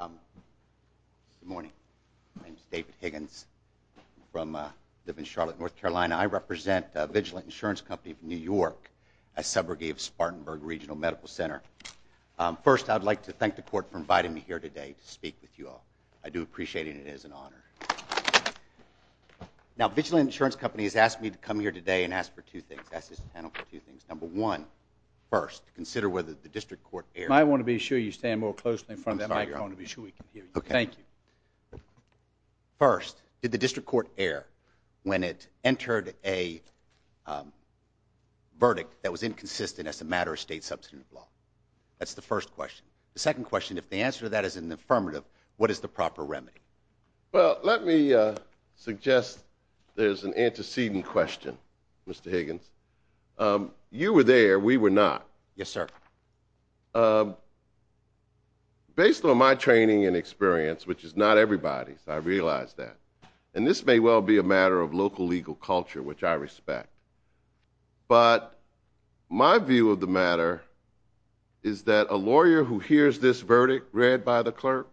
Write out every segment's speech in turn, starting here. Good morning. My name is David Higgins. I live in Charlotte, North Carolina. I represent Vigilant Insurance Company of New York, a subrogate of Spartanburg Regional Medical Center. First, I'd like to thank the court for inviting me here today to speak with you all. I do appreciate it. It is an honor. Now, Vigilant Insurance Company has asked me to come here today and ask for two things. Ask this panel for two things. Number one, first, did the district court err when it entered a verdict that was inconsistent as a matter of state substantive law? That's the first question. The second question, if the answer to that is an affirmative, what is the proper remedy? Well, let me suggest there's an antecedent question, Mr. Higgins. You were there. We were not. Yes, sir. Based on my training and experience, which is not everybody's, I realize that. And this may well be a matter of local legal culture, which I respect. But my view of the matter is that a lawyer who hears this verdict read by the clerk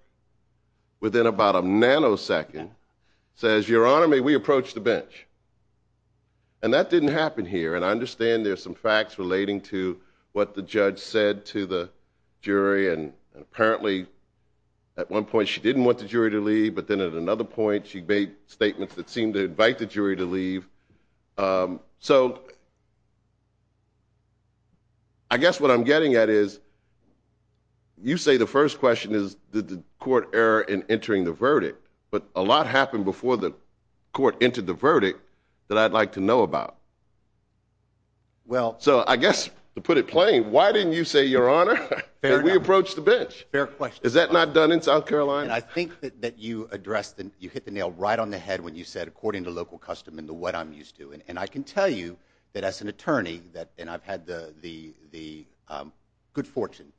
within about a nanosecond says, Your Honor, may we approach the bench? And that didn't happen here. And I understand there's some facts relating to what the judge said to the jury. And apparently, at one point, she didn't want the jury to leave. But then at another point, she made statements that seemed to invite the jury to leave. So I guess what I'm getting at is, you say the first question is, did the court err in entering the verdict? But a lot happened before the court entered the verdict that I'd like to know about. So I guess, to put it plain, why didn't you say, Your Honor, may we approach the bench? Fair question. Is that not done in South Carolina? And I think that you hit the nail right on the head when you said, according to local custom and to what I'm used to. And I can tell you that as an attorney, and I've had the good fortune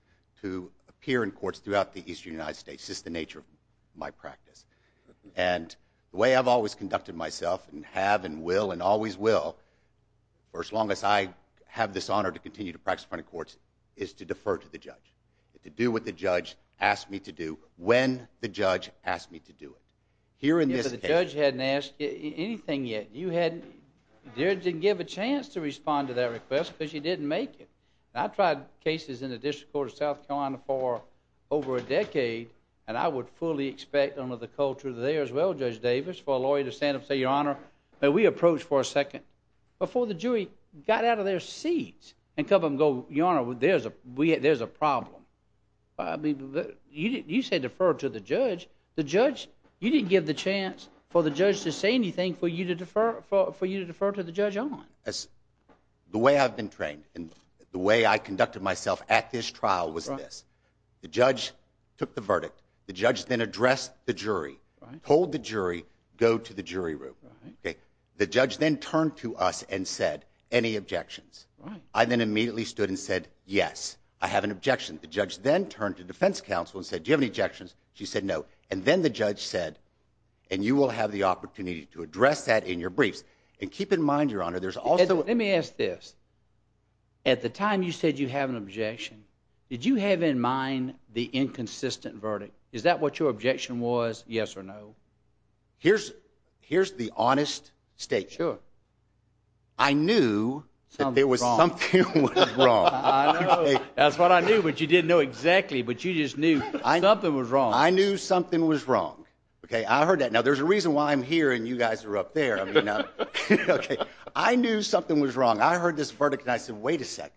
to appear in courts throughout the eastern United States. It's just the nature of my practice. And the way I've always conducted myself, and have, and will, and always will, for as long as I have this honor to continue to practice in front of courts, is to defer to the judge. To do what the judge asked me to do, when the judge asked me to do it. Here in this case. If the judge hadn't asked you anything yet, you hadn't dared to give a chance to respond to that request because you didn't make it. I tried cases in the District Court of South Carolina for a decade, and I would fully expect under the culture there as well, Judge Davis, for a lawyer to stand up and say, Your Honor, may we approach for a second? Before the jury got out of their seats and come and go, Your Honor, there's a problem. You said defer to the judge. The judge, you didn't give the chance for the judge to say anything for you to defer to the judge on. The way I've been trained, and the way I conducted myself at this trial was this. The judge took the verdict. The judge then addressed the jury, told the jury, go to the jury room. The judge then turned to us and said, Any objections? I then immediately stood and said, Yes, I have an objection. The judge then turned to defense counsel and said, Do you have any objections? She said, No. And then the judge said, And you will have the opportunity to address that in your briefs. And keep in mind, Your Honor, there's also... Did you have in mind the inconsistent verdict? Is that what your objection was, yes or no? Here's the honest statement. I knew that there was something wrong. That's what I knew, but you didn't know exactly, but you just knew something was wrong. I knew something was wrong. I heard that. Now, there's a reason why I'm here and you guys are up there. I knew something was wrong. I heard this verdict and I said, Wait a second.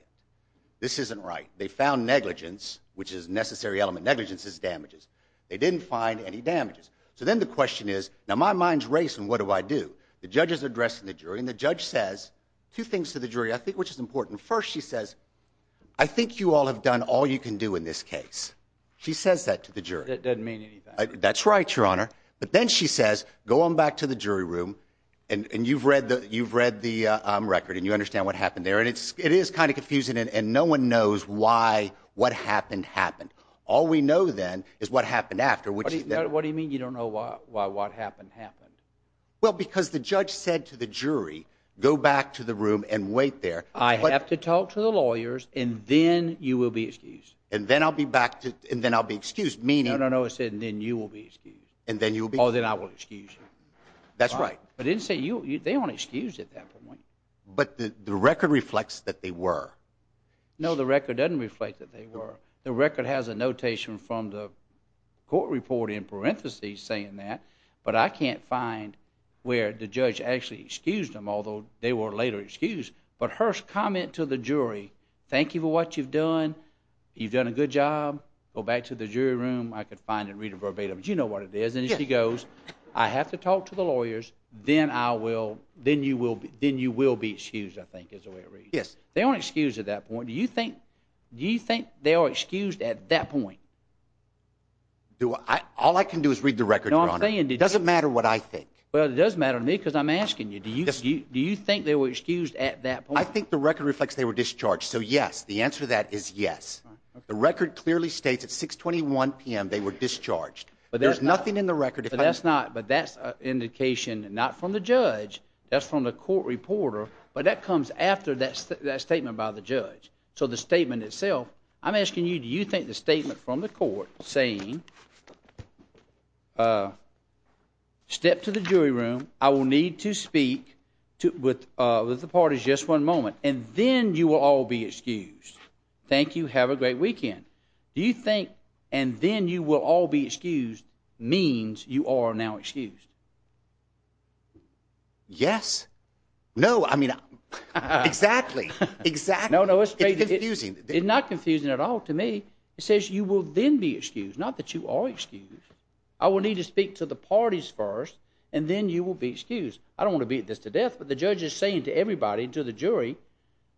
This isn't right. They found negligence, which is a necessary element. Negligence is damages. They didn't find any damages. So then the question is, Now, my mind's racing. What do I do? The judge is addressing the jury and the judge says two things to the jury, I think, which is important. First, she says, I think you all have done all you can do in this case. She says that to the jury. That doesn't mean anything. That's right, Your Honor. But then she says, Go on back to the jury room and you've read the record and you understand what happened there. And it is kind of confusing and no one knows why what happened happened. All we know then is what happened after. What do you mean you don't know why what happened happened? Well, because the judge said to the jury, Go back to the room and wait there. I have to talk to the lawyers and then you will be excused. And then I'll be back to and then I'll be excused. Meaning I know it said, And then you will be excused. And then you'll be. Oh, then I will excuse you. That's But the record reflects that they were. No, the record doesn't reflect that they were. The record has a notation from the court report in parentheses saying that. But I can't find where the judge actually excused him, although they were later excused. But her comment to the jury. Thank you for what you've done. You've done a good job. Go back to the jury room. I could find and read a verbatim. You know what it is. And she goes, I have to talk to the lawyers. Then I will. Then you will. Then you will be excused. I think is the way it reads. Yes, they aren't excused at that point. Do you think do you think they are excused at that point? Do all I can do is read the record. No, I'm saying it doesn't matter what I think. Well, it doesn't matter to me because I'm asking you. Do you do you think they were excused at that point? I think the record reflects they were discharged. So, yes, the answer to that is yes. The record clearly states at 6 21 p.m. they were discharged, but there's nothing in the record. That's not. But that's indication not from the judge. That's from the court reporter. But that comes after that statement by the judge. So the statement itself, I'm asking you, do you think the statement from the court saying step to the jury room? I will need to speak with the parties just one moment and then you will all be excused. Thank you. Have a great weekend. Do you think and then you will all be excused means you are now excused? Yes. No, I mean, exactly. Exactly. No, no, it's not confusing at all to me. It says you will then be excused, not that you are excused. I will need to speak to the parties first and then you will be excused. I don't want to beat this to death, but the judge is saying to everybody, to the jury,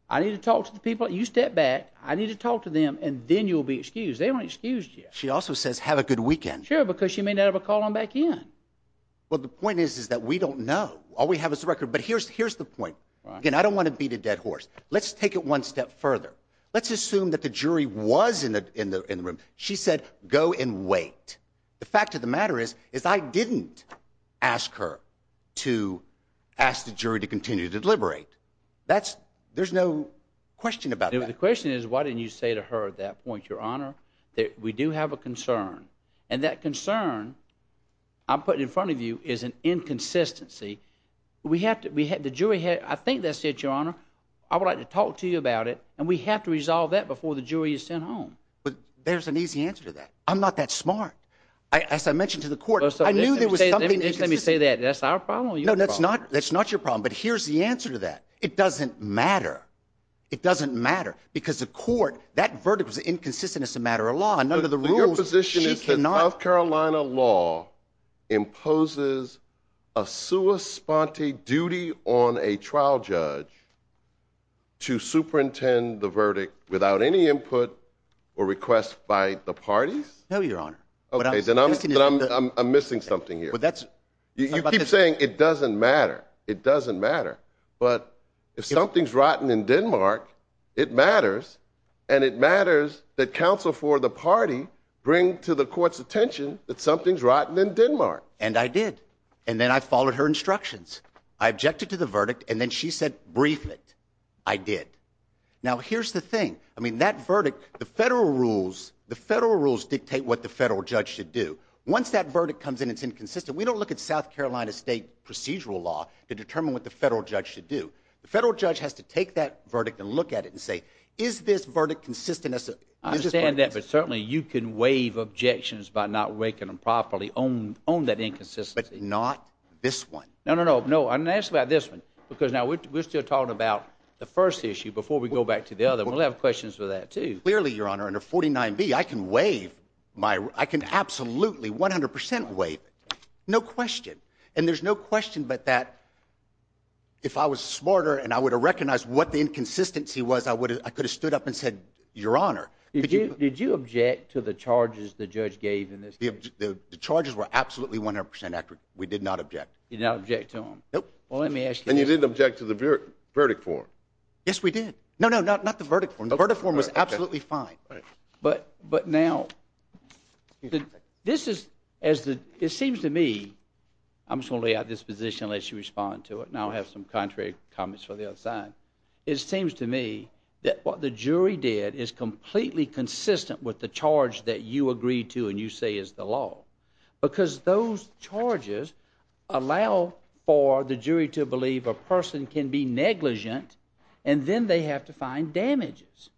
I need to talk to the people. You step back. I need to talk to them and then you'll be excused. They weren't excused. She also says have a good weekend because you may never call them back in. Well, the point is, is that we don't know. All we have is the record. But here's here's the point. I don't want to beat a dead horse. Let's take it one step further. Let's assume that the jury was in the in the in the room. She said, go and wait. The fact of the matter is, is I didn't ask her to ask the jury to continue to deliberate. That's there's no question about it. The question is, why didn't you say to her at that point, your honor, that we do have a concern and that concern I'm putting in front of you is an inconsistency. We have to we had the jury. I think that's it, your honor. I would like to talk to you about it and we have to resolve that before the jury is sent home. But there's an easy answer to that. I'm not that smart. As I mentioned to the court, so I knew there was something. Let me say that that's our problem. No, that's not. That's not your problem. But here's the answer to that. It doesn't matter. It doesn't matter because the court that verdict was inconsistent. It's a matter of law. None of the rules position is that North Carolina law imposes a sua sponte duty on a trial judge to superintend the verdict without any input or request by the parties. No, your honor. OK, then I'm I'm missing something here, but that's you keep saying it doesn't matter. It doesn't matter. But if something's rotten in Denmark, it matters and it matters that counsel for the party bring to the court's attention that something's rotten in Denmark. And I did. And then I followed her instructions. I objected to the verdict. And then she said, brief it. I did. Now, here's the thing. I mean, that verdict, the federal rules, the federal rules dictate what the federal judge should do. Once that verdict comes in, it's inconsistent. We don't look at South Carolina state procedural law to determine what the federal judge should do. The federal judge has to take that verdict and look at it and say, is this verdict consistent? I understand that. But certainly you can waive objections by not raking them properly on on that inconsistency. Not this one. No, no, no. No. And that's about this one, because now we're still talking about the first issue before we go back to the other. We'll have questions for that, too. Clearly, your honor, under 49 B, I can waive my I can absolutely 100 percent wait. No question. And there's no question but that. If I was smarter and I would have recognized what the inconsistency was, I would I could have stood up and said, your honor, did you object to the charges the judge gave in this? The charges were absolutely 100 percent accurate. We did not object. You don't object to them. Well, let me ask you. And you didn't object to the verdict for. Yes, we did. No, no, not the verdict. Vertiform was absolutely fine. But but now this is as it seems to me, I'm slowly at this position unless you respond to it. Now I have some contrary comments for the other side. It seems to me that what the jury did is completely consistent with the charge that you agreed to and you say is the law, because those charges allow for the jury to believe a person can be negligent and then they have to find damages.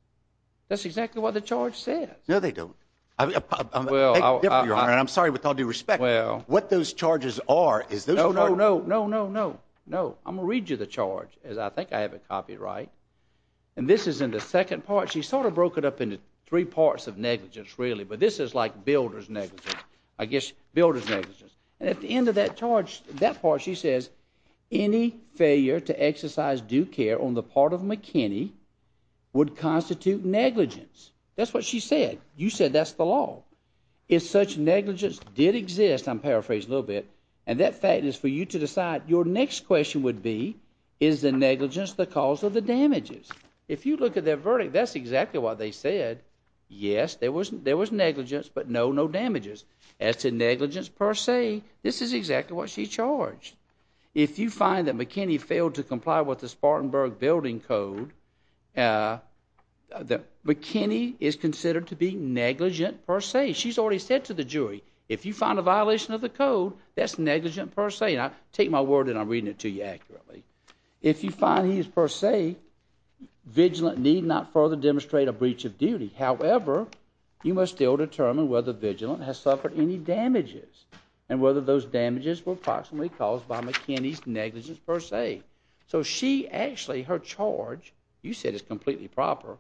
That's exactly what the charge says. No, they don't. Well, I'm sorry, with all due respect. Well, what those charges are is no, no, no, no, no, no, no. I'm going to read you the charge as I think I have a copyright. And this is in the second part. She sort of broke it up into three parts of negligence, really. But this is like builders negligence, I guess builders negligence. And at the end of that charge, that part, she says any failure to exercise due on the part of McKinney would constitute negligence. That's what she said. You said that's the law is such negligence did exist. I'm paraphrase a little bit. And that fact is for you to decide your next question would be, is the negligence the cause of the damages? If you look at their verdict, that's exactly what they said. Yes, there was there was negligence, but no, no damages as to negligence per se. This is exactly what she charged. If you find that McKinney failed to building code, that McKinney is considered to be negligent per se. She's already said to the jury, if you find a violation of the code, that's negligent per se. And I take my word and I'm reading it to you accurately. If you find he is per se, vigilant need not further demonstrate a breach of duty. However, you must still determine whether vigilant has suffered any damages and whether those damages were approximately caused by McKinney's negligence per se. So she actually her charge, you said it's completely proper.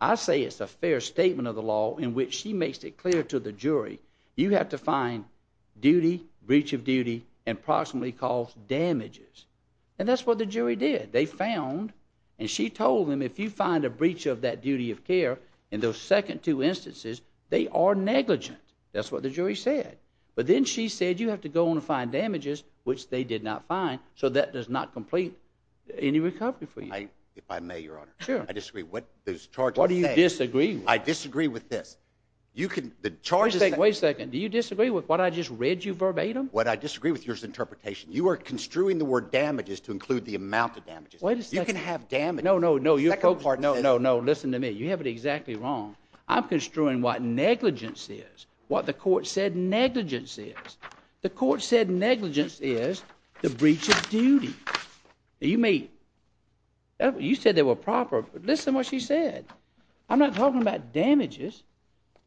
I say it's a fair statement of the law in which she makes it clear to the jury, you have to find duty, breach of duty and proximately caused damages. And that's what the jury did. They found and she told them, if you find a breach of that duty of care in those second two instances, they are negligent. That's what the jury said. But then she said, you have to go on and find damages, which they did not find. So that does not complete any recovery for you. If I may, Your Honor, I disagree with those charges. What do you disagree? I disagree with this. You can the charges. Wait a second. Do you disagree with what I just read you verbatim? What I disagree with your interpretation, you are construing the word damages to include the amount of damages. You can have damage. No, no, no, no, no, no, no. Listen to me. You have it exactly wrong. I'm construing what negligence is, what the court said negligence is. The court said negligence is the breach of duty. You may. You said they were proper. Listen what she said. I'm not talking about damages.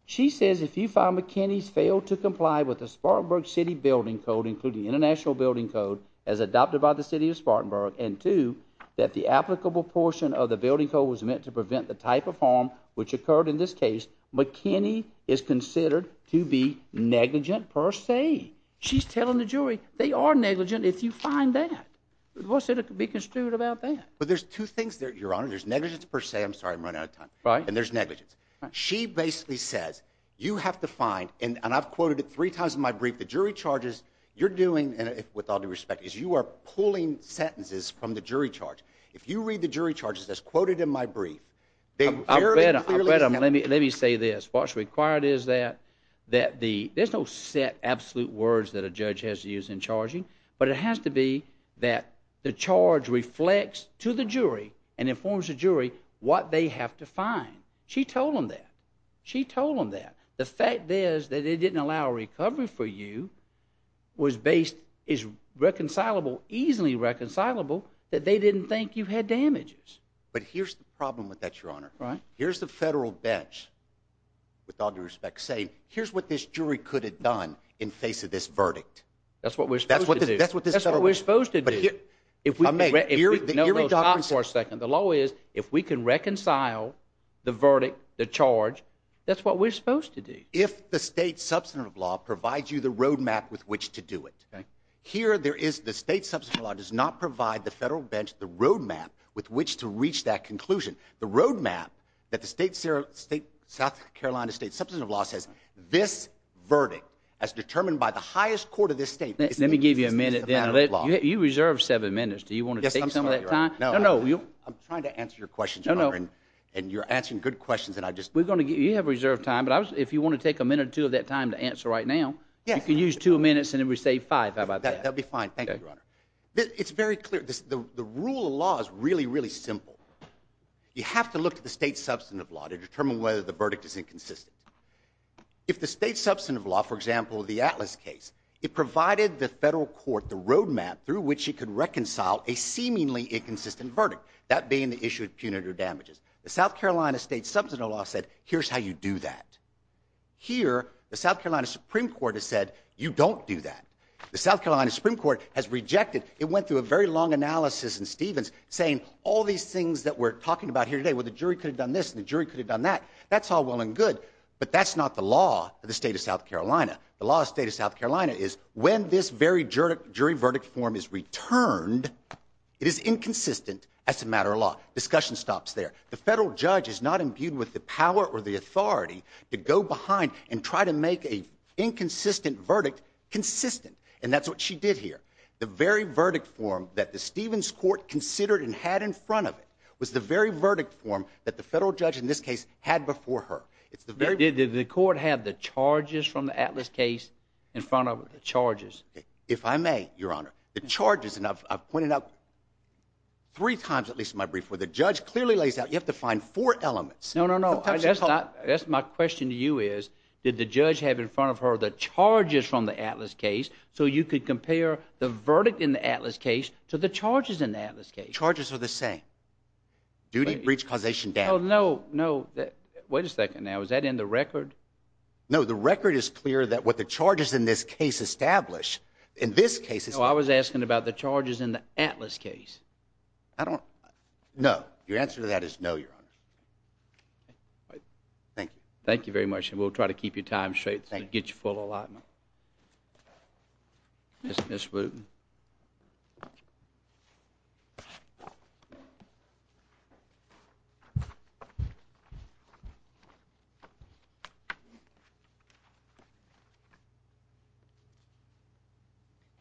She says if you find McKinney's failed to comply with the Spartanburg city building code, including international building code as adopted by the city of Spartanburg and to that, the applicable portion of the building code was meant to prevent the type of harm which occurred in this case. McKinney is considered to be negligent per se. She's telling the jury they are negligent if you find that. What's there to be construed about that? But there's two things there, your honor. There's negligence per se. I'm sorry I'm running out of time. Right. And there's negligence. She basically says you have to find, and I've quoted it three times in my brief, the jury charges you're doing, and with all due respect, is you are pulling sentences from the jury charge. If you read the jury charges as quoted in my brief, they clearly Let me say this. What's required is that there's no set absolute words that a judge has to use in charging, but it has to be that the charge reflects to the jury and informs the jury what they have to find. She told them that. She told them that. The fact is that it didn't allow a recovery for you was based, is reconcilable, easily reconcilable, that they didn't think you bench with all due respect saying here's what this jury could have done in face of this verdict. That's what we're supposed to do. That's what we're supposed to do. If we can reconcile the verdict, the charge, that's what we're supposed to do. If the state substantive law provides you the road map with which to do it. Here there is the state substantive law does not provide the federal bench the road map with which to reach that conclusion. The road map that the state South Carolina state substantive law says this verdict as determined by the highest court of this state. Let me give you a minute. You reserve seven minutes. Do you want to take some of that time? I'm trying to answer your questions and you're answering good questions. And I just we're going to get you have reserved time. But if you want to take a minute or two of that time to answer right now, you can use two minutes and then we say five. How about that? Thank you, Your Honor. It's very clear. The rule of law is really, really simple. You have to look at the state substantive law to determine whether the verdict is inconsistent. If the state substantive law, for example, the Atlas case, it provided the federal court the road map through which you could reconcile a seemingly inconsistent verdict, that being the issue of punitive damages. The South Carolina state substantive law said, here's how you do that. Here, the South Carolina Supreme Court has said, you don't do that. The South Carolina Supreme Court has rejected. It went through a very long analysis in Stevens saying all these things that we're talking about here today with the jury could have done this, and the jury could have done that. That's all well and good. But that's not the law of the state of South Carolina. The law of the state of South Carolina is when this very jury verdict form is returned, it is inconsistent as a matter of law. Discussion stops there. The federal judge is not imbued with the power or the authority to go behind and try to make a And that's what she did here. The very verdict form that the Stevens court considered and had in front of it was the very verdict form that the federal judge in this case had before her. It's the very- Did the court have the charges from the Atlas case in front of it, the charges? If I may, Your Honor, the charges, and I've pointed out three times, at least in my brief, where the judge clearly lays out, you have to find four elements. No, no, no. That's not, that's my question to you is, did the judge have in front of her the so you could compare the verdict in the Atlas case to the charges in the Atlas case? Charges are the same. Duty, breach, causation, damage. Oh, no, no. Wait a second now. Is that in the record? No, the record is clear that what the charges in this case establish, in this case- No, I was asking about the charges in the Atlas case. I don't, no. Your answer to that is no, Your Honor. Thank you. Thank you very much. And we'll try to keep your time straight to get your full allotment. Yes, Ms. Wooten.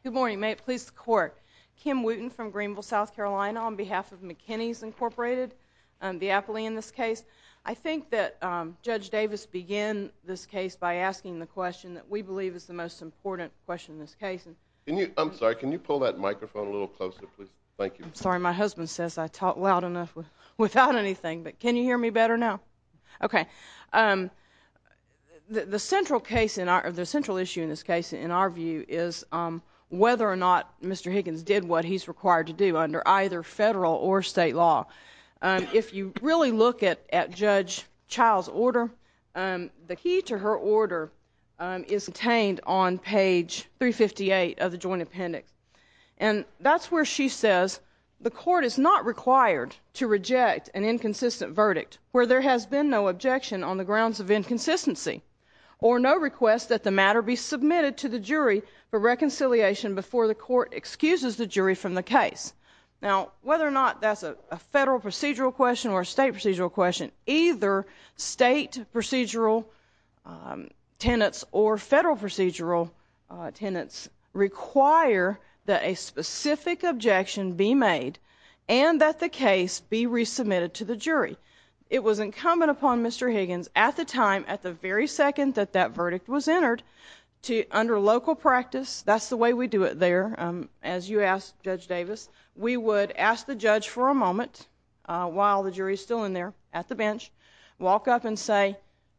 Good morning. May it please the Court. Kim Wooten from Greenville, South Carolina, on behalf of McKinney's Incorporated, the appellee in this case. I think that Judge Davis began this case by asking the question that we believe is the most important question in this case. I'm sorry. Can you pull that microphone a little closer, please? Thank you. I'm sorry. My husband says I talk loud enough without anything, but can you hear me better now? Okay. The central issue in this case, in our view, is whether or not Mr. Higgins did what he's required to do under either federal or state law. If you really look at Judge Child's order, the key to her order is contained on page 358 of the joint appendix. And that's where she says the Court is not required to reject an inconsistent verdict where there has been no objection on the grounds of inconsistency or no request that the matter be submitted to the jury for reconciliation before the Court excuses the jury from the case. Now, whether or not that's a federal procedural question or a state procedural question, either state procedural tenets or federal procedural tenets require that a specific objection be made and that the case be resubmitted to the jury. It was incumbent upon Mr. Higgins at the time, at the very second that that verdict was entered, to, under local practice, that's the way we do it there, as you asked Judge Davis, we would ask the judge for a moment while the jury's still in there at the bench, walk up and say,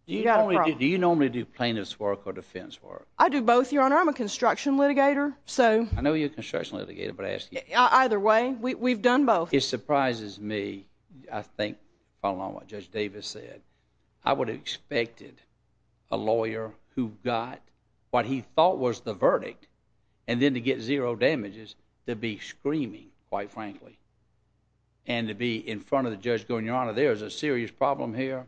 Do you normally do plaintiff's work or defense work? I do both, Your Honor. I'm a construction litigator, so... I know you're a construction litigator, but I ask you... Either way, we've done both. It surprises me, I think, following what Judge Davis said, I would have expected a lawyer who got what he thought was the verdict and then to get zero damages to be screaming, quite frankly, and to be in front of the judge going, Your Honor, there's a serious problem here,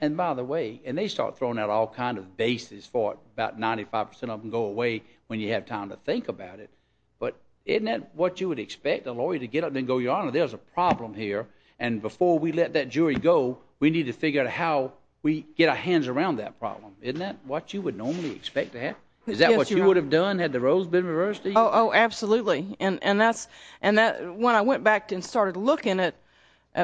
and by the way, and they start throwing out all kinds of bases for it, about 95% of them go away when you have time to think about it, but isn't that what you would expect a lawyer to get up and go, Your Honor, there's a problem here, and before we let that jury go, we need to figure out how we get our hands around that problem. Isn't that what you would normally expect to have? Is that what you would have done had the roles been reversed? Oh, absolutely, and when I went back and started looking at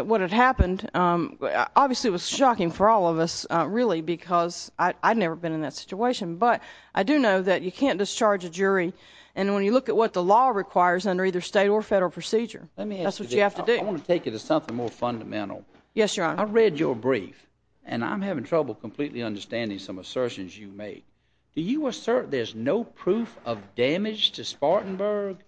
what had happened, obviously it was shocking for all of us, really, because I'd never been in that situation, but I do know that you can't discharge a jury, and when you look at what the law requires under either state or federal procedure, that's what you have to do. Let me ask you this. I want to take you to something more fundamental. Yes, Your Honor. I read your brief, and I'm having trouble completely understanding some assertions you make. Do you assert there's no proof of damage to Spartanburg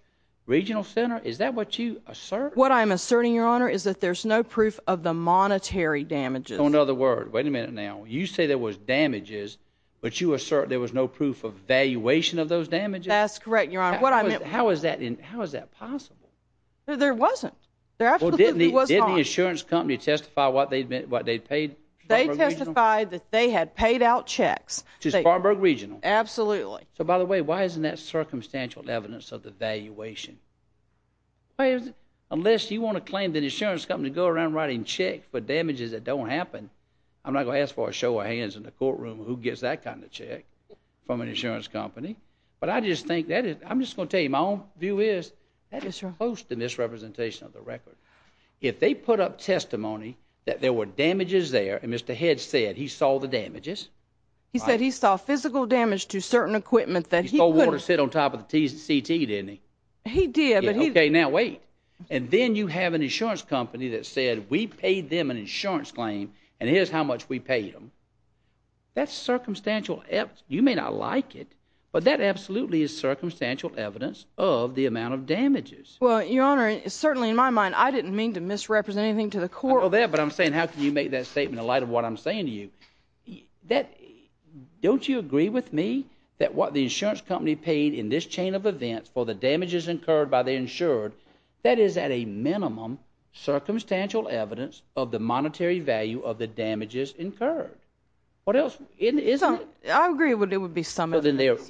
Regional Center? Is that what you assert? What I'm asserting, Your Honor, is that there's no proof of the monetary damages. Oh, another word. Wait a minute now. You say there was damages, but you assert there was no proof of valuation of those damages? That's correct, Your Honor. What I meant— How is that possible? There wasn't. There absolutely was not. Didn't the insurance company testify what they paid? They testified that they had paid out checks. To Spartanburg Regional? Absolutely. So, by the way, why isn't that circumstantial evidence of the valuation? Unless you want to claim the insurance company to go around writing checks for damages that don't happen, I'm not going to ask for a show of hands in the courtroom who gets that kind of check from an insurance company, but I just think that is—I'm just going to tell you my own view is that is supposed to misrepresentation of the record. If they put up testimony that there were damages there, and Mr. Head said he saw the damages— He said he saw physical damage to certain equipment that he couldn't— He stole water and sat on top of the CT, didn't he? He did, but he— Okay, now wait. And then you have an insurance company that said, we paid them an insurance claim, and here's how much we paid them. That's circumstantial evidence. You may not like it, but that absolutely is circumstantial evidence of the amount of damages. Well, Your Honor, certainly in my mind, I didn't mean to misrepresent anything to the court. I know that, but I'm saying how can you make that statement in light of what I'm saying to you? That—Don't you agree with me that what the insurance company paid in this chain of events for the damages incurred by the insured, that is at a minimum circumstantial evidence of the monetary value of the damages incurred? What else? Isn't it? I agree that there would be some evidence. Well, then there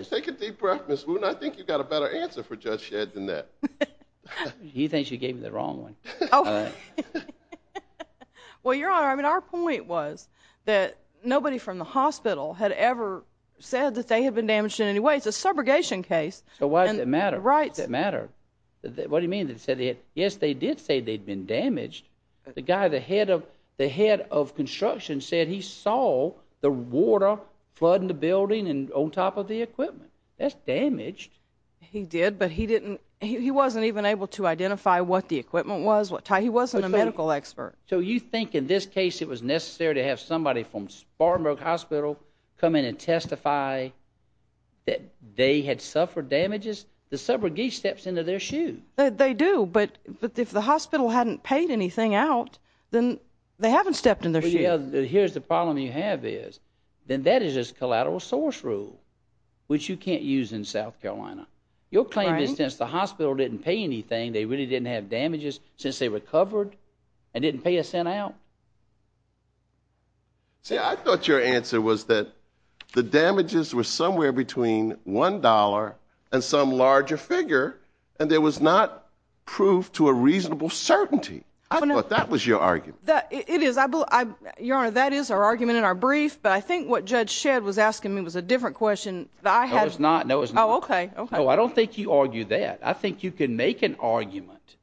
is. Take a deep breath, Ms. Wooten. I think you've got a better answer for Judge Shedd than that. He thinks you gave me the wrong one. All right. Well, Your Honor, I mean, our point was that nobody from the hospital had ever said that they had been damaged in any way. It's a subrogation case. So why does it matter? Right. Does it matter? What do you mean? Yes, they did say they'd been damaged. The guy, the head of construction said he saw the water flooding the building and on top of the equipment. That's damaged. He did, but he didn't. He wasn't even able to identify what the equipment was. Ty, he wasn't a medical expert. So you think in this case, it was necessary to have somebody from Spartanburg Hospital come in and testify that they had suffered damages? The subrogate steps into their shoe. They do. But if the hospital hadn't paid anything out, then they haven't stepped in their shoe. Here's the problem you have is, then that is just collateral source rule, which you can't use in South Carolina. Your claim is since the hospital didn't pay anything, they really didn't have damages since they recovered and didn't pay a cent out. See, I thought your answer was that the damages were somewhere between one dollar and some larger figure, and there was not proof to a reasonable certainty. I thought that was your argument. It is. Your Honor, that is our argument in our brief. But I think what Judge Shedd was arguing was a different question. No, it's not. No, it's not. Oh, okay. No, I don't think you argue that. I think you can make an argument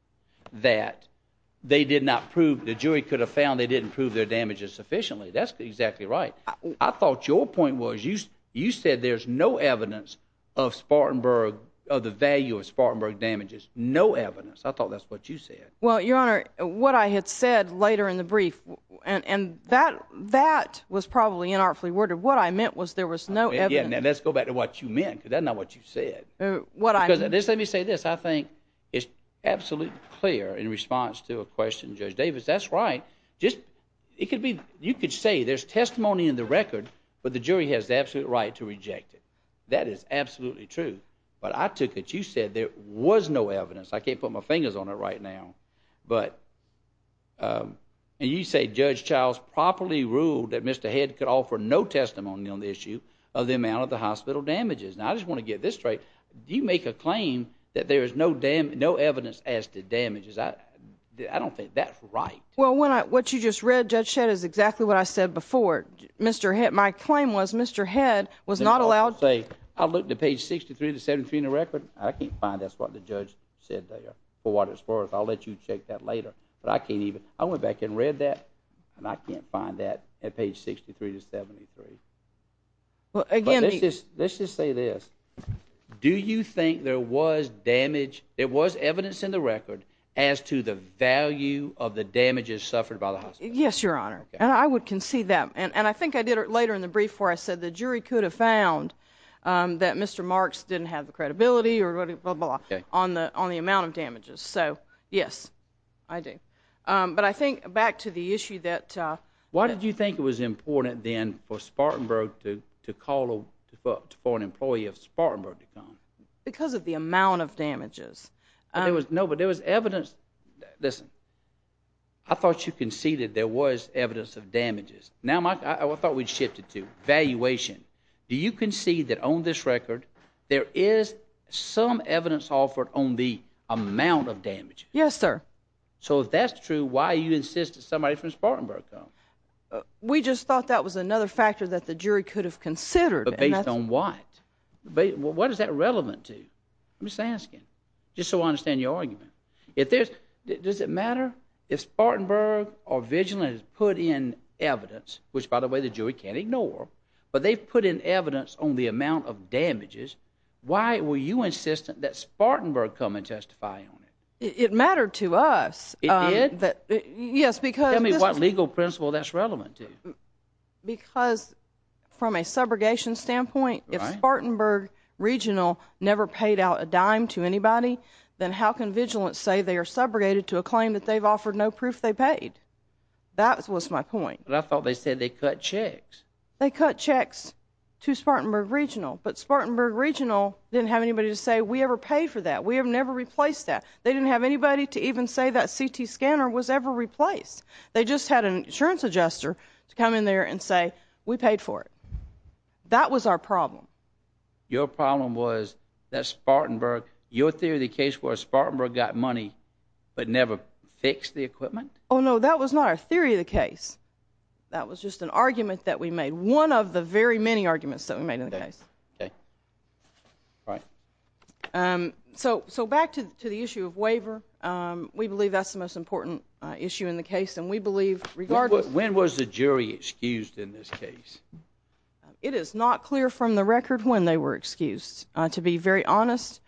that they did not prove, the jury could have found they didn't prove their damages sufficiently. That's exactly right. I thought your point was, you said there's no evidence of Spartanburg, of the value of Spartanburg damages. No evidence. I thought that's what you said. Well, Your Honor, what I had said later in the brief, and that was probably inartfully worded. What I meant was there was no evidence. Yeah, now let's go back to what you meant, because that's not what you said. What I meant... Let me say this. I think it's absolutely clear in response to a question, Judge Davis, that's right. Just, it could be, you could say there's testimony in the record, but the jury has the absolute right to reject it. That is absolutely true. But I took it, you said there was no evidence. I can't put my fingers on it right now. But, and you say Judge Childs properly ruled that Mr. Head could offer no testimony on the issue of the amount of the hospital damages. Now, I just want to get this straight. Do you make a claim that there is no evidence as to damages? I don't think that's right. Well, what you just read, Judge Shedd, is exactly what I said before. My claim was Mr. Head was not allowed... Say, I looked at page 63 to 73 in the record. I can't find that's what the judge said there. For what it's worth, I'll let you check that later. But I can't even... I went back and read that, and I can't find that at page 63 to 73. Well, again... Let's just say this. Do you think there was damage, there was evidence in the record as to the value of the damages suffered by the hospital? Yes, Your Honor. And I would concede that. And I think I did it later in the brief where I said the jury could have found that Mr. Marks didn't have the credibility or blah, blah, blah on the amount of damages. So, yes, I do. But I think back to the issue that... Why did you think it was important, then, for Spartanburg to call for an employee of Spartanburg to come? Because of the amount of damages. No, but there was evidence... Listen, I thought you conceded there was evidence of damages. Now, I thought we'd shift it to valuation. Do you concede that on this record there is some evidence offered on the amount of damages? Yes, sir. So if that's true, why are you insisting somebody from Spartanburg come? We just thought that was another factor that the jury could have considered. But based on what? What is that relevant to? I'm just asking, just so I understand your argument. Does it matter if Spartanburg or Vigilant has put in evidence, which, by the way, the jury can't ignore, but they've put in evidence on the amount of damages, why were you insistent that Spartanburg come and testify on it? It mattered to us. It did? Yes, because... Tell me what legal principle that's relevant to. Because from a subrogation standpoint, if Spartanburg Regional never paid out a dime to anybody, then how can Vigilant say they are subrogated to a claim that they've offered no proof they paid? That was my point. But I thought they said they cut checks. They cut checks to Spartanburg Regional, but Spartanburg Regional didn't have anybody to say, we ever paid for that. We have never replaced that. They didn't have anybody to even say that CT scanner was ever replaced. They just had an insurance adjuster to come in there and say, we paid for it. That was our problem. Your problem was that Spartanburg, your theory of the case was Spartanburg got money, but never fixed the equipment? Oh, no, that was not our theory of the case. That was just an argument that we made. One of the very many arguments that we made in the case. Right. So back to the issue of waiver. We believe that's the most important issue in the case. And we believe, regardless... When was the jury excused in this case? It is not clear from the record when they were excused, to be very honest.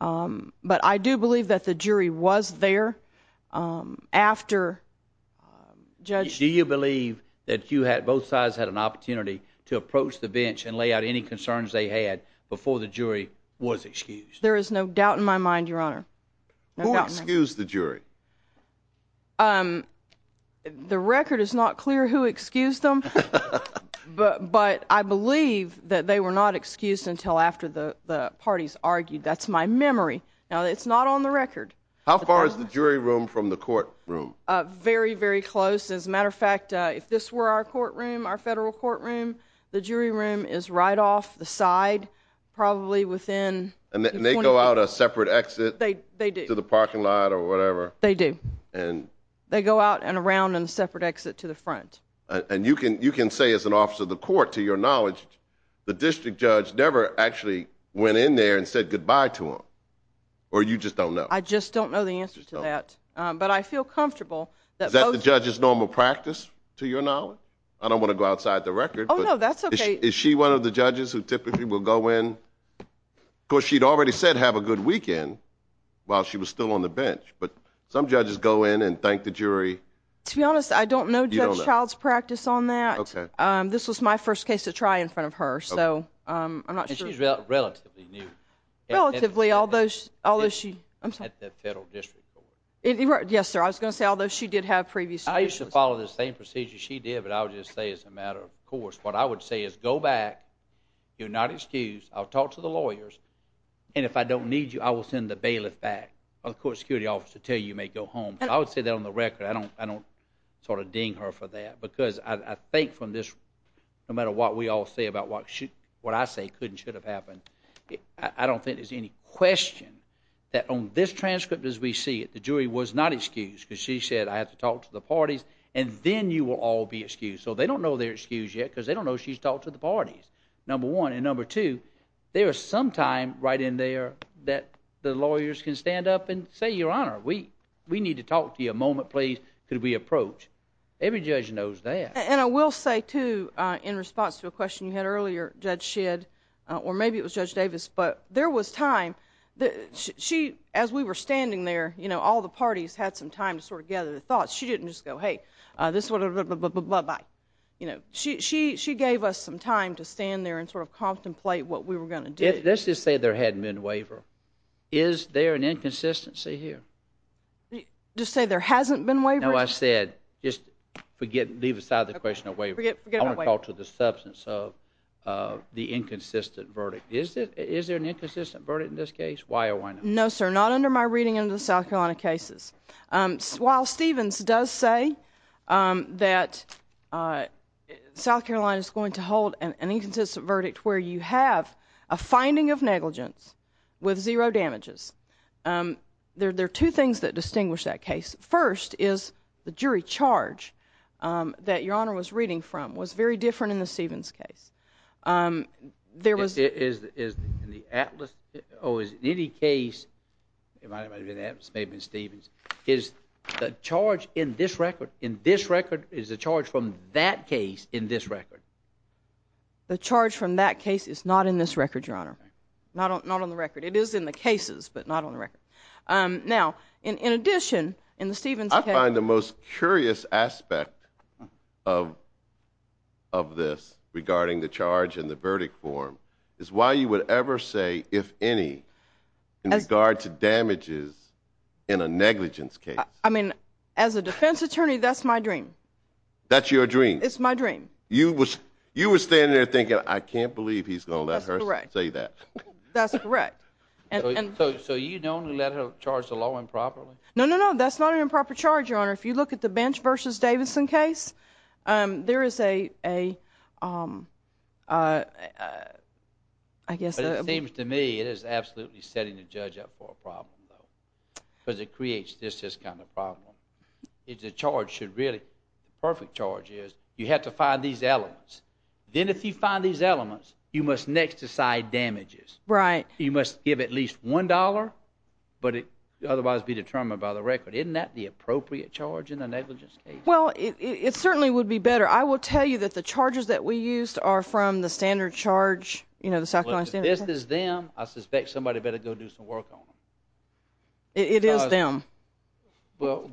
Um, but I do believe that the jury was there, um, after, um, Judge... Do you believe that you had, both sides had an opportunity to approach the bench and lay out any concerns they had before the jury was excused? There is no doubt in my mind, Your Honor. Who excused the jury? Um, the record is not clear who excused them, but I believe that they were not excused until after the parties argued. That's my memory. Now, it's not on the record. How far is the jury room from the courtroom? Very, very close. As a matter of fact, if this were our courtroom, our federal courtroom, the jury room is right off the side, probably within... And they go out a separate exit? They do. To the parking lot or whatever? And? They go out and around in a separate exit to the front. And you can, you can say as an officer of the court, to your knowledge, the district judge never actually went in there and said goodbye to them? Or you just don't know? I just don't know the answer to that. Um, but I feel comfortable that both... Is that the judge's normal practice, to your knowledge? I don't want to go outside the record. Oh, no, that's okay. Is she one of the judges who typically will go in? Of course, she'd already said have a good weekend while she was still on the bench, but some judges go in and thank the jury. To be honest, I don't know Judge Child's practice on that. Okay. This was my first case to try in front of her, so I'm not sure... And she's relatively new. Relatively, although she... I'm sorry. At the federal district court. Yes, sir. I was going to say, although she did have previous... I used to follow the same procedure she did, but I would just say as a matter of course, what I would say is go back, you're not excused, I'll talk to the lawyers, and if I don't need you, I will send the bailiff back, or the court security officer, to tell you you may go home. I would say that on the record. I don't sort of ding her for that, because I think from this, no matter what we all say about what I say could and should have happened, I don't think there's any question that on this transcript as we see it, the jury was not excused, because she said I have to talk to the parties, and then you will all be excused. So they don't know they're excused yet, because they don't know she's talked to the parties, number one. And number two, there is some time right in there that the lawyers can stand up and say, we need to talk to you a moment, please. Could we approach? Every judge knows that. And I will say, too, in response to a question you had earlier, Judge Shedd, or maybe it was Judge Davis, but there was time. As we were standing there, all the parties had some time to sort of gather their thoughts. She didn't just go, hey, this one, blah, blah, blah, blah, blah, blah, blah, blah, blah. She gave us some time to stand there and sort of contemplate what we were going to do. Let's just say there hadn't been a waiver. Is there an inconsistency here? You just say there hasn't been a waiver. No, I said just forget, leave aside the question of waiver. I want to talk to the substance of the inconsistent verdict. Is there an inconsistent verdict in this case? Why or why not? No, sir, not under my reading in the South Carolina cases. While Stevens does say that South Carolina is going to hold an inconsistent verdict where you have a finding of negligence with zero damages, there are two things that distinguish that case. First is the jury charge that Your Honor was reading from was very different in the Stevens case. There was— Is it in the Atlas? Or is it in any case—it might have been in the Atlas, it may have been Stevens. Is the charge in this record, in this record, is the charge from that case in this record? The charge from that case is not in this record, Your Honor. Not on the record. It is in the cases, but not on the record. Now, in addition, in the Stevens case— I find the most curious aspect of this regarding the charge and the verdict form is why you would ever say, if any, in regard to damages in a negligence case. I mean, as a defense attorney, that's my dream. That's your dream? It's my dream. You were standing there thinking, I can't believe he's going to let her say that. That's correct. So you don't let her charge the law improperly? No, no, no. That's not an improper charge, Your Honor. If you look at the Bench v. Davidson case, there is a, I guess— But it seems to me it is absolutely setting the judge up for a problem, though. Because it creates this kind of problem. The charge should really—the perfect charge is you have to find these elements. Then if you find these elements, you must next decide damages. Right. You must give at least $1, but it would otherwise be determined by the record. Isn't that the appropriate charge in a negligence case? Well, it certainly would be better. I will tell you that the charges that we used are from the standard charge, you know, the South Carolina— If this is them, I suspect somebody better go do some work on them. It is them. Well—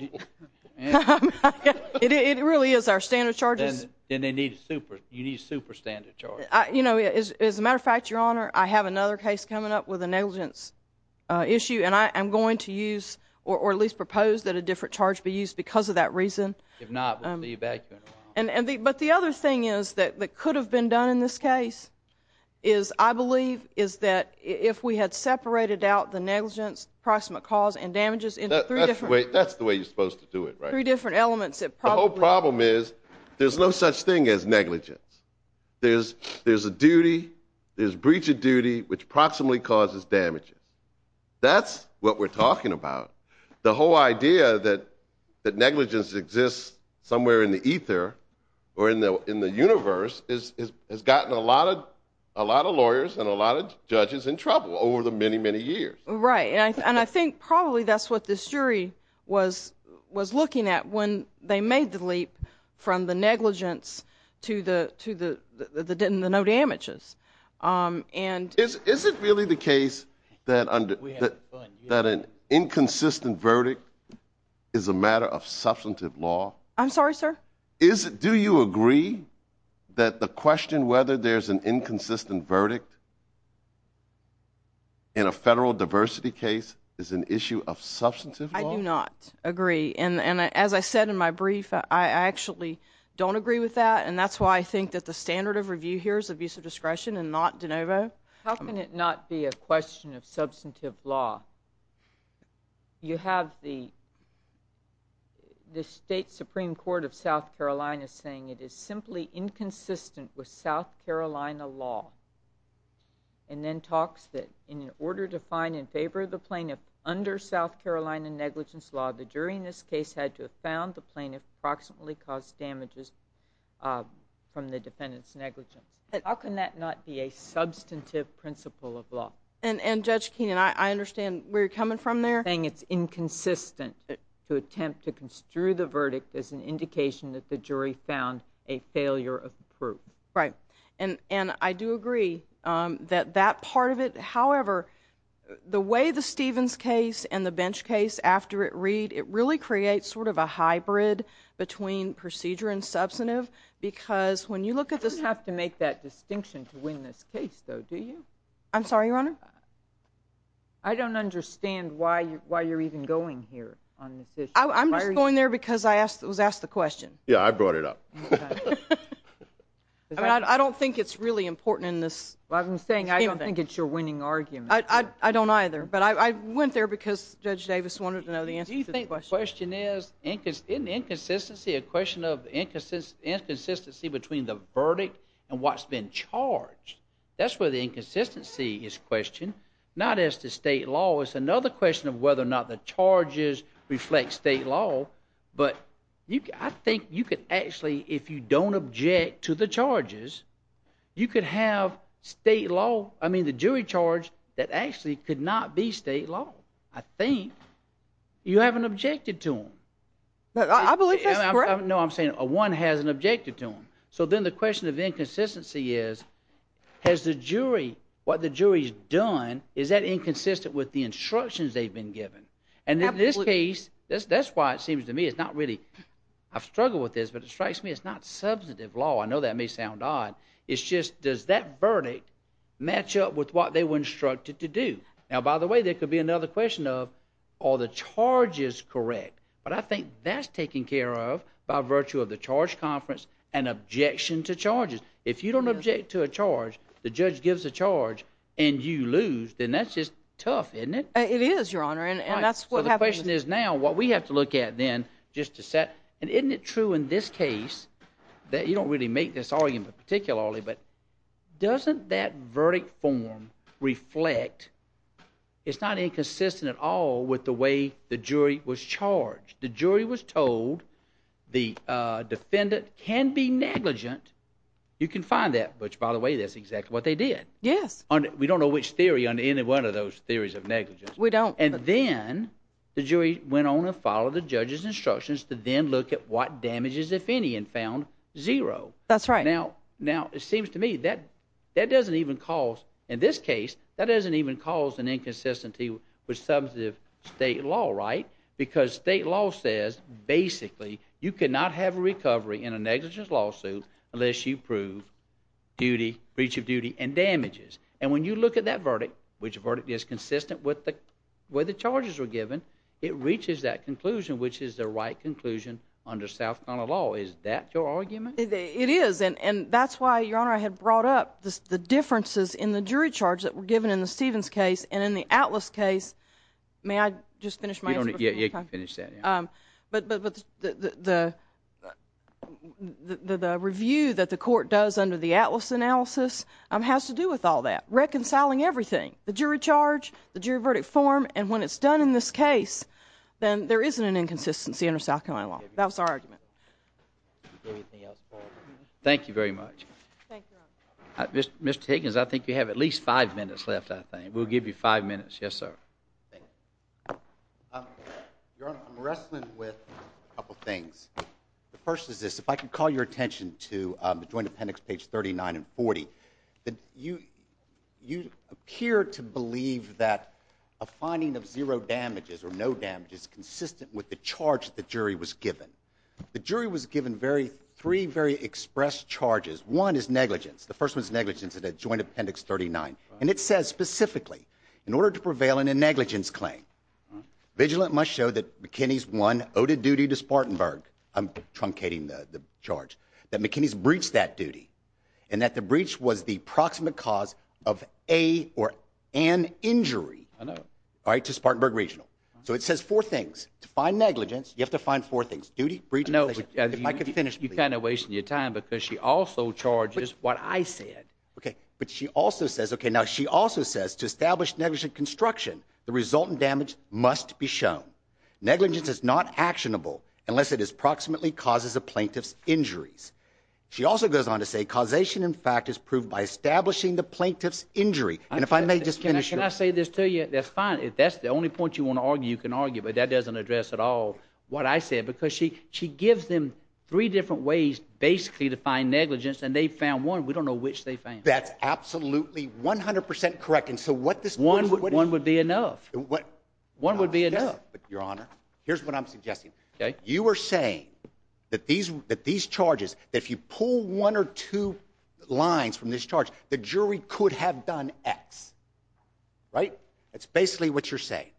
It really is. Our standard charges— Then you need a super standard charge. You know, as a matter of fact, Your Honor, I have another case coming up with a negligence issue, and I am going to use or at least propose that a different charge be used because of that reason. If not, we'll leave that. But the other thing that could have been done in this case is, I believe, is that if we had That's the way you're supposed to do it, right? Three different elements. The whole problem is there's no such thing as negligence. There's a duty, there's breach of duty, which proximately causes damages. That's what we're talking about. The whole idea that negligence exists somewhere in the ether or in the universe has gotten a lot of lawyers and a lot of judges in trouble over the many, many years. Right, and I think probably that's what this jury was looking at when they made the leap from the negligence to the no damages. Is it really the case that an inconsistent verdict is a matter of substantive law? I'm sorry, sir? Do you agree that the question whether there's an inconsistent verdict in a federal diversity case is an issue of substantive law? I do not agree. And as I said in my brief, I actually don't agree with that. And that's why I think that the standard of review here is abuse of discretion and not de novo. How can it not be a question of substantive law? You have the state Supreme Court of South Carolina saying it is simply inconsistent with South Carolina law. And then talks that in order to find in favor of the plaintiff under South Carolina negligence law, the jury in this case had to have found the plaintiff approximately caused damages from the defendant's negligence. How can that not be a substantive principle of law? And Judge Keenan, I understand where you're coming from there. Saying it's inconsistent to attempt to construe the verdict as an indication that the jury found a failure of proof. Right. And I do agree that that part of it. However, the way the Stevens case and the Bench case after it read, it really creates sort of a hybrid between procedure and substantive. Because when you look at this... You don't have to make that distinction to win this case, though, do you? I'm sorry, Your Honor? I don't understand why you're even going here on this issue. I'm just going there because I was asked the question. Yeah, I brought it up. I mean, I don't think it's really important in this... Well, I'm saying I don't think it's your winning argument. I don't either. But I went there because Judge Davis wanted to know the answer to the question. Do you think the question is, isn't inconsistency a question of inconsistency between the verdict and what's been charged? That's where the inconsistency is questioned. Not as to state law. It's another question of whether or not the charges reflect state law. But I think you could actually, if you don't object to the charges, you could have state law. I mean, the jury charge that actually could not be state law. I think you haven't objected to them. I believe that's correct. No, I'm saying one hasn't objected to them. So then the question of inconsistency is, has the jury... What the jury's done, is that inconsistent with the instructions they've been given? And in this case, that's why it seems to me it's not really... I've struggled with this, but it strikes me it's not substantive law. I know that may sound odd. It's just, does that verdict match up with what they were instructed to do? Now, by the way, there could be another question of, are the charges correct? But I think that's taken care of by virtue of the charge conference and objection to charges. If you don't object to a charge, the judge gives a charge, and you lose, then that's just tough, isn't it? It is, Your Honor, and that's what happened. The question is now, what we have to look at then, just to set... And isn't it true in this case that... You don't really make this argument particularly, but doesn't that verdict form reflect... It's not inconsistent at all with the way the jury was charged. The jury was told the defendant can be negligent. You can find that, which by the way, that's exactly what they did. Yes. We don't know which theory on any one of those theories of negligence. And then the jury went on to follow the judge's instructions to then look at what damages, if any, and found zero. That's right. Now, it seems to me that that doesn't even cause... In this case, that doesn't even cause an inconsistency with substantive state law, right? Because state law says, basically, you cannot have a recovery in a negligence lawsuit unless you prove duty, breach of duty, and damages. And when you look at that verdict, which verdict is consistent with the way the charges were given, it reaches that conclusion, which is the right conclusion under South Carolina law. Is that your argument? It is. And that's why, Your Honor, I had brought up the differences in the jury charge that were given in the Stevens case and in the Atlas case. May I just finish my answer before I... You can finish that, yeah. But the review that the court does under the Atlas analysis has to do with all that. Reconciling everything. The jury charge, the jury verdict form, and when it's done in this case, then there isn't an inconsistency under South Carolina law. That was our argument. Thank you very much. Mr. Higgins, I think you have at least five minutes left, I think. We'll give you five minutes. Yes, sir. Your Honor, I'm wrestling with a couple things. The first is this. If I could call your attention to the Joint Appendix, page 39 and 40, you appear to believe that a finding of zero damages or no damages consistent with the charge the jury was given. The jury was given three very expressed charges. One is negligence. The first one is negligence in the Joint Appendix 39. And it says specifically, in order to prevail in a negligence claim, vigilant must show that McKinney's one owed a duty to Spartanburg. I'm truncating the charge. That McKinney's breached that duty. And that the breach was the proximate cause of a or an injury to Spartanburg Regional. So it says four things. To find negligence, you have to find four things. Duty, breach, negligence. I know, but you're kind of wasting your time because she also charges what I said. OK. But she also says, OK, now she also says to establish negligent construction, the resultant must be shown. Negligence is not actionable unless it is approximately causes a plaintiff's injuries. She also goes on to say causation, in fact, is proved by establishing the plaintiff's injury. And if I may just finish. Can I say this to you? That's fine. That's the only point you want to argue. You can argue, but that doesn't address at all what I said, because she she gives them three different ways basically to find negligence. And they found one. We don't know which they found. That's absolutely 100% correct. And so what this one would be enough. One would be enough. But your honor, here's what I'm suggesting. OK. You are saying that these that these charges, if you pull one or two lines from this charge, the jury could have done X. Right. That's basically what you're saying.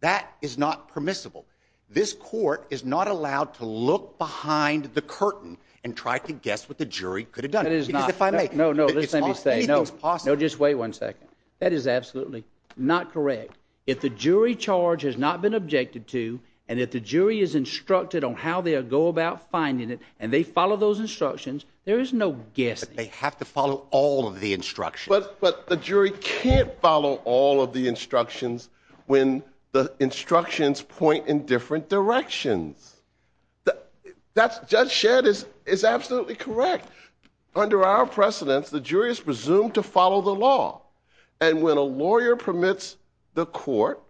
That is not permissible. This court is not allowed to look behind the curtain and try to guess what the jury could have done. It is not. If I may. No, no, let me say, no, no, just wait one second. That is absolutely not correct. If the jury charge has not been objected to and if the jury is instructed on how they will go about finding it and they follow those instructions, there is no guess. They have to follow all of the instruction, but the jury can't follow all of the instructions when the instructions point in different directions. That's just shared is is absolutely correct. Under our precedence, the jury is presumed to follow the law. And when a lawyer permits the court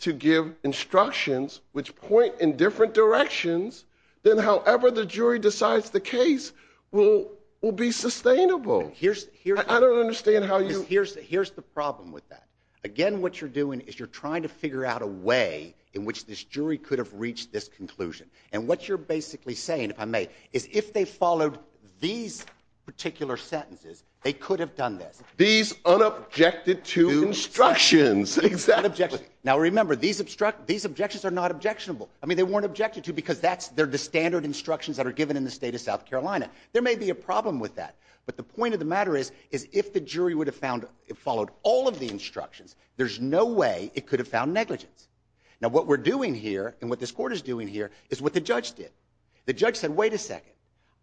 to give instructions which point in different directions, then however, the jury decides the case will will be sustainable. Here's here. I don't understand how you. Here's here's the problem with that. Again, what you're doing is you're trying to figure out a way in which this jury could have reached this conclusion. And what you're basically saying, if I may, is if they followed these particular sentences, they could have done this. These unobjected to instructions. Exactly. Now, remember, these obstruct these objections are not objectionable. I mean, they weren't objected to because that's they're the standard instructions that are given in the state of South Carolina. There may be a problem with that. But the point of the matter is, is if the jury would have found it followed all of the instructions, there's no way it could have found negligence. Now, what we're doing here and what this court is doing here is what the judge did. The judge said, wait a second.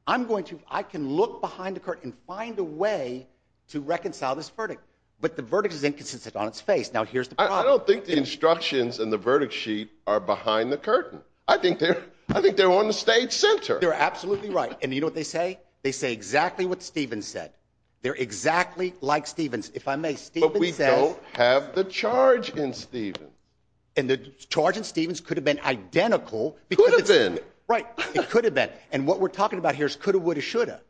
I'm going to I can look behind the curtain, find a way to reconcile this verdict. But the verdict is inconsistent on its face. Now, here's the I don't think the instructions and the verdict sheet are behind the curtain. I think they're I think they're on the state center. They're absolutely right. And you know what they say? They say exactly what Stephen said. They're exactly like Stephen's. If I may, but we don't have the charge in Stephen and the charge in Stephen's could have been identical. It could have been right. It could have been. And what we're talking about here is could have would have should have.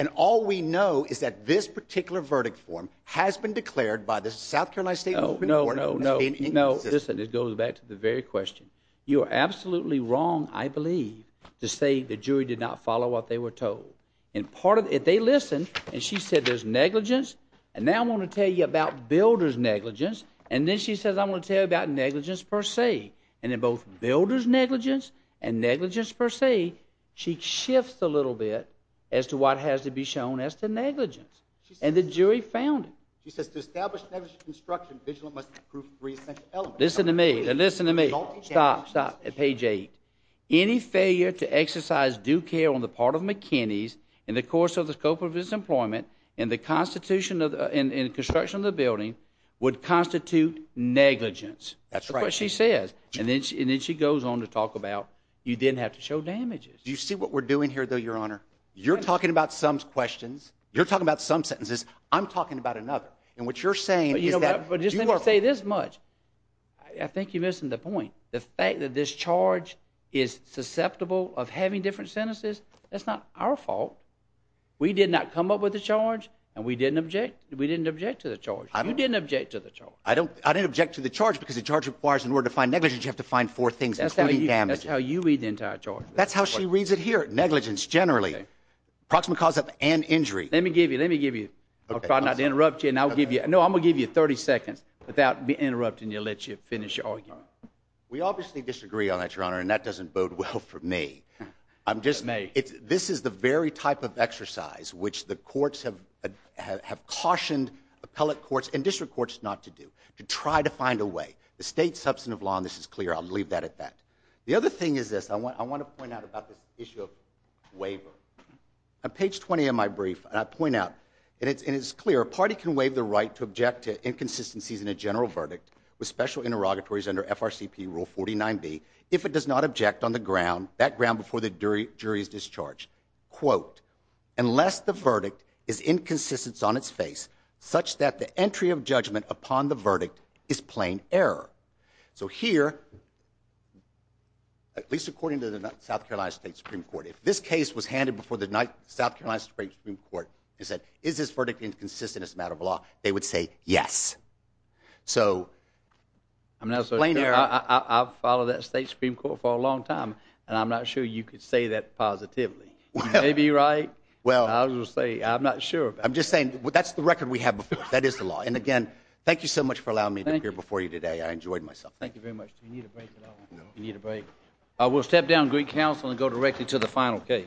And all we know is that this particular verdict form has been declared by the South Carolina state. No, no, no, no, no. This goes back to the very question. You are absolutely wrong. I believe to say the jury did not follow what they were told. And part of it, they listen. And she said there's negligence. And now I want to tell you about builders negligence. And then she says, I want to tell you about negligence per se. And in both builders negligence and negligence per se, she shifts a little bit as to what has to be shown as to negligence. And the jury found it. She says to establish negligence in construction, vigilant must approve three essential elements. Listen to me. Listen to me. Stop. Stop. Page eight. Any failure to exercise due care on the part of McKinney's in the course of the scope of his employment in the construction of the building would constitute negligence. That's what she says. And then she goes on to talk about you didn't have to show damages. Do you see what we're doing here, though, your honor? You're talking about some questions. You're talking about some sentences. I'm talking about another. And what you're saying is that you say this much. I think you're missing the point. The fact that this charge is susceptible of having different sentences. That's not our fault. We did not come up with the charge and we didn't object. We didn't object to the charge. I didn't object to the charge. I didn't object to the charge because the charge requires in order to find negligence, you have to find four things, including damage. That's how you read the entire charge. That's how she reads it here. Negligence. Generally, approximate cause of an injury. Let me give you. Let me give you. I'll try not to interrupt you. And I'll give you. No, I'm gonna give you 30 seconds without being interrupted. And you'll let you finish your argument. We obviously disagree on that, your honor. And that doesn't bode well for me. I'm just. This is the very type of exercise which the courts have cautioned appellate courts and to try to find a way. The state substantive law on this is clear. I'll leave that at that. The other thing is this. I want to point out about this issue of waiver. On page 20 of my brief, I point out and it's clear a party can waive the right to object to inconsistencies in a general verdict with special interrogatories under FRCP rule 49b if it does not object on the ground, that ground before the jury's discharge. Upon the verdict is plain error. So here. At least according to the South Carolina State Supreme Court, if this case was handed before the South Carolina Supreme Court and said, is this verdict inconsistent as a matter of law? They would say yes. So. I'm not saying I'll follow that state Supreme Court for a long time. And I'm not sure you could say that positively, maybe. Right. Well, I will say I'm not sure. I'm just saying that's the record we have. That is the law. Again, thank you so much for allowing me to appear before you today. I enjoyed myself. Thank you very much. Do you need a break? You need a break. I will step down Greek Council and go directly to the final case.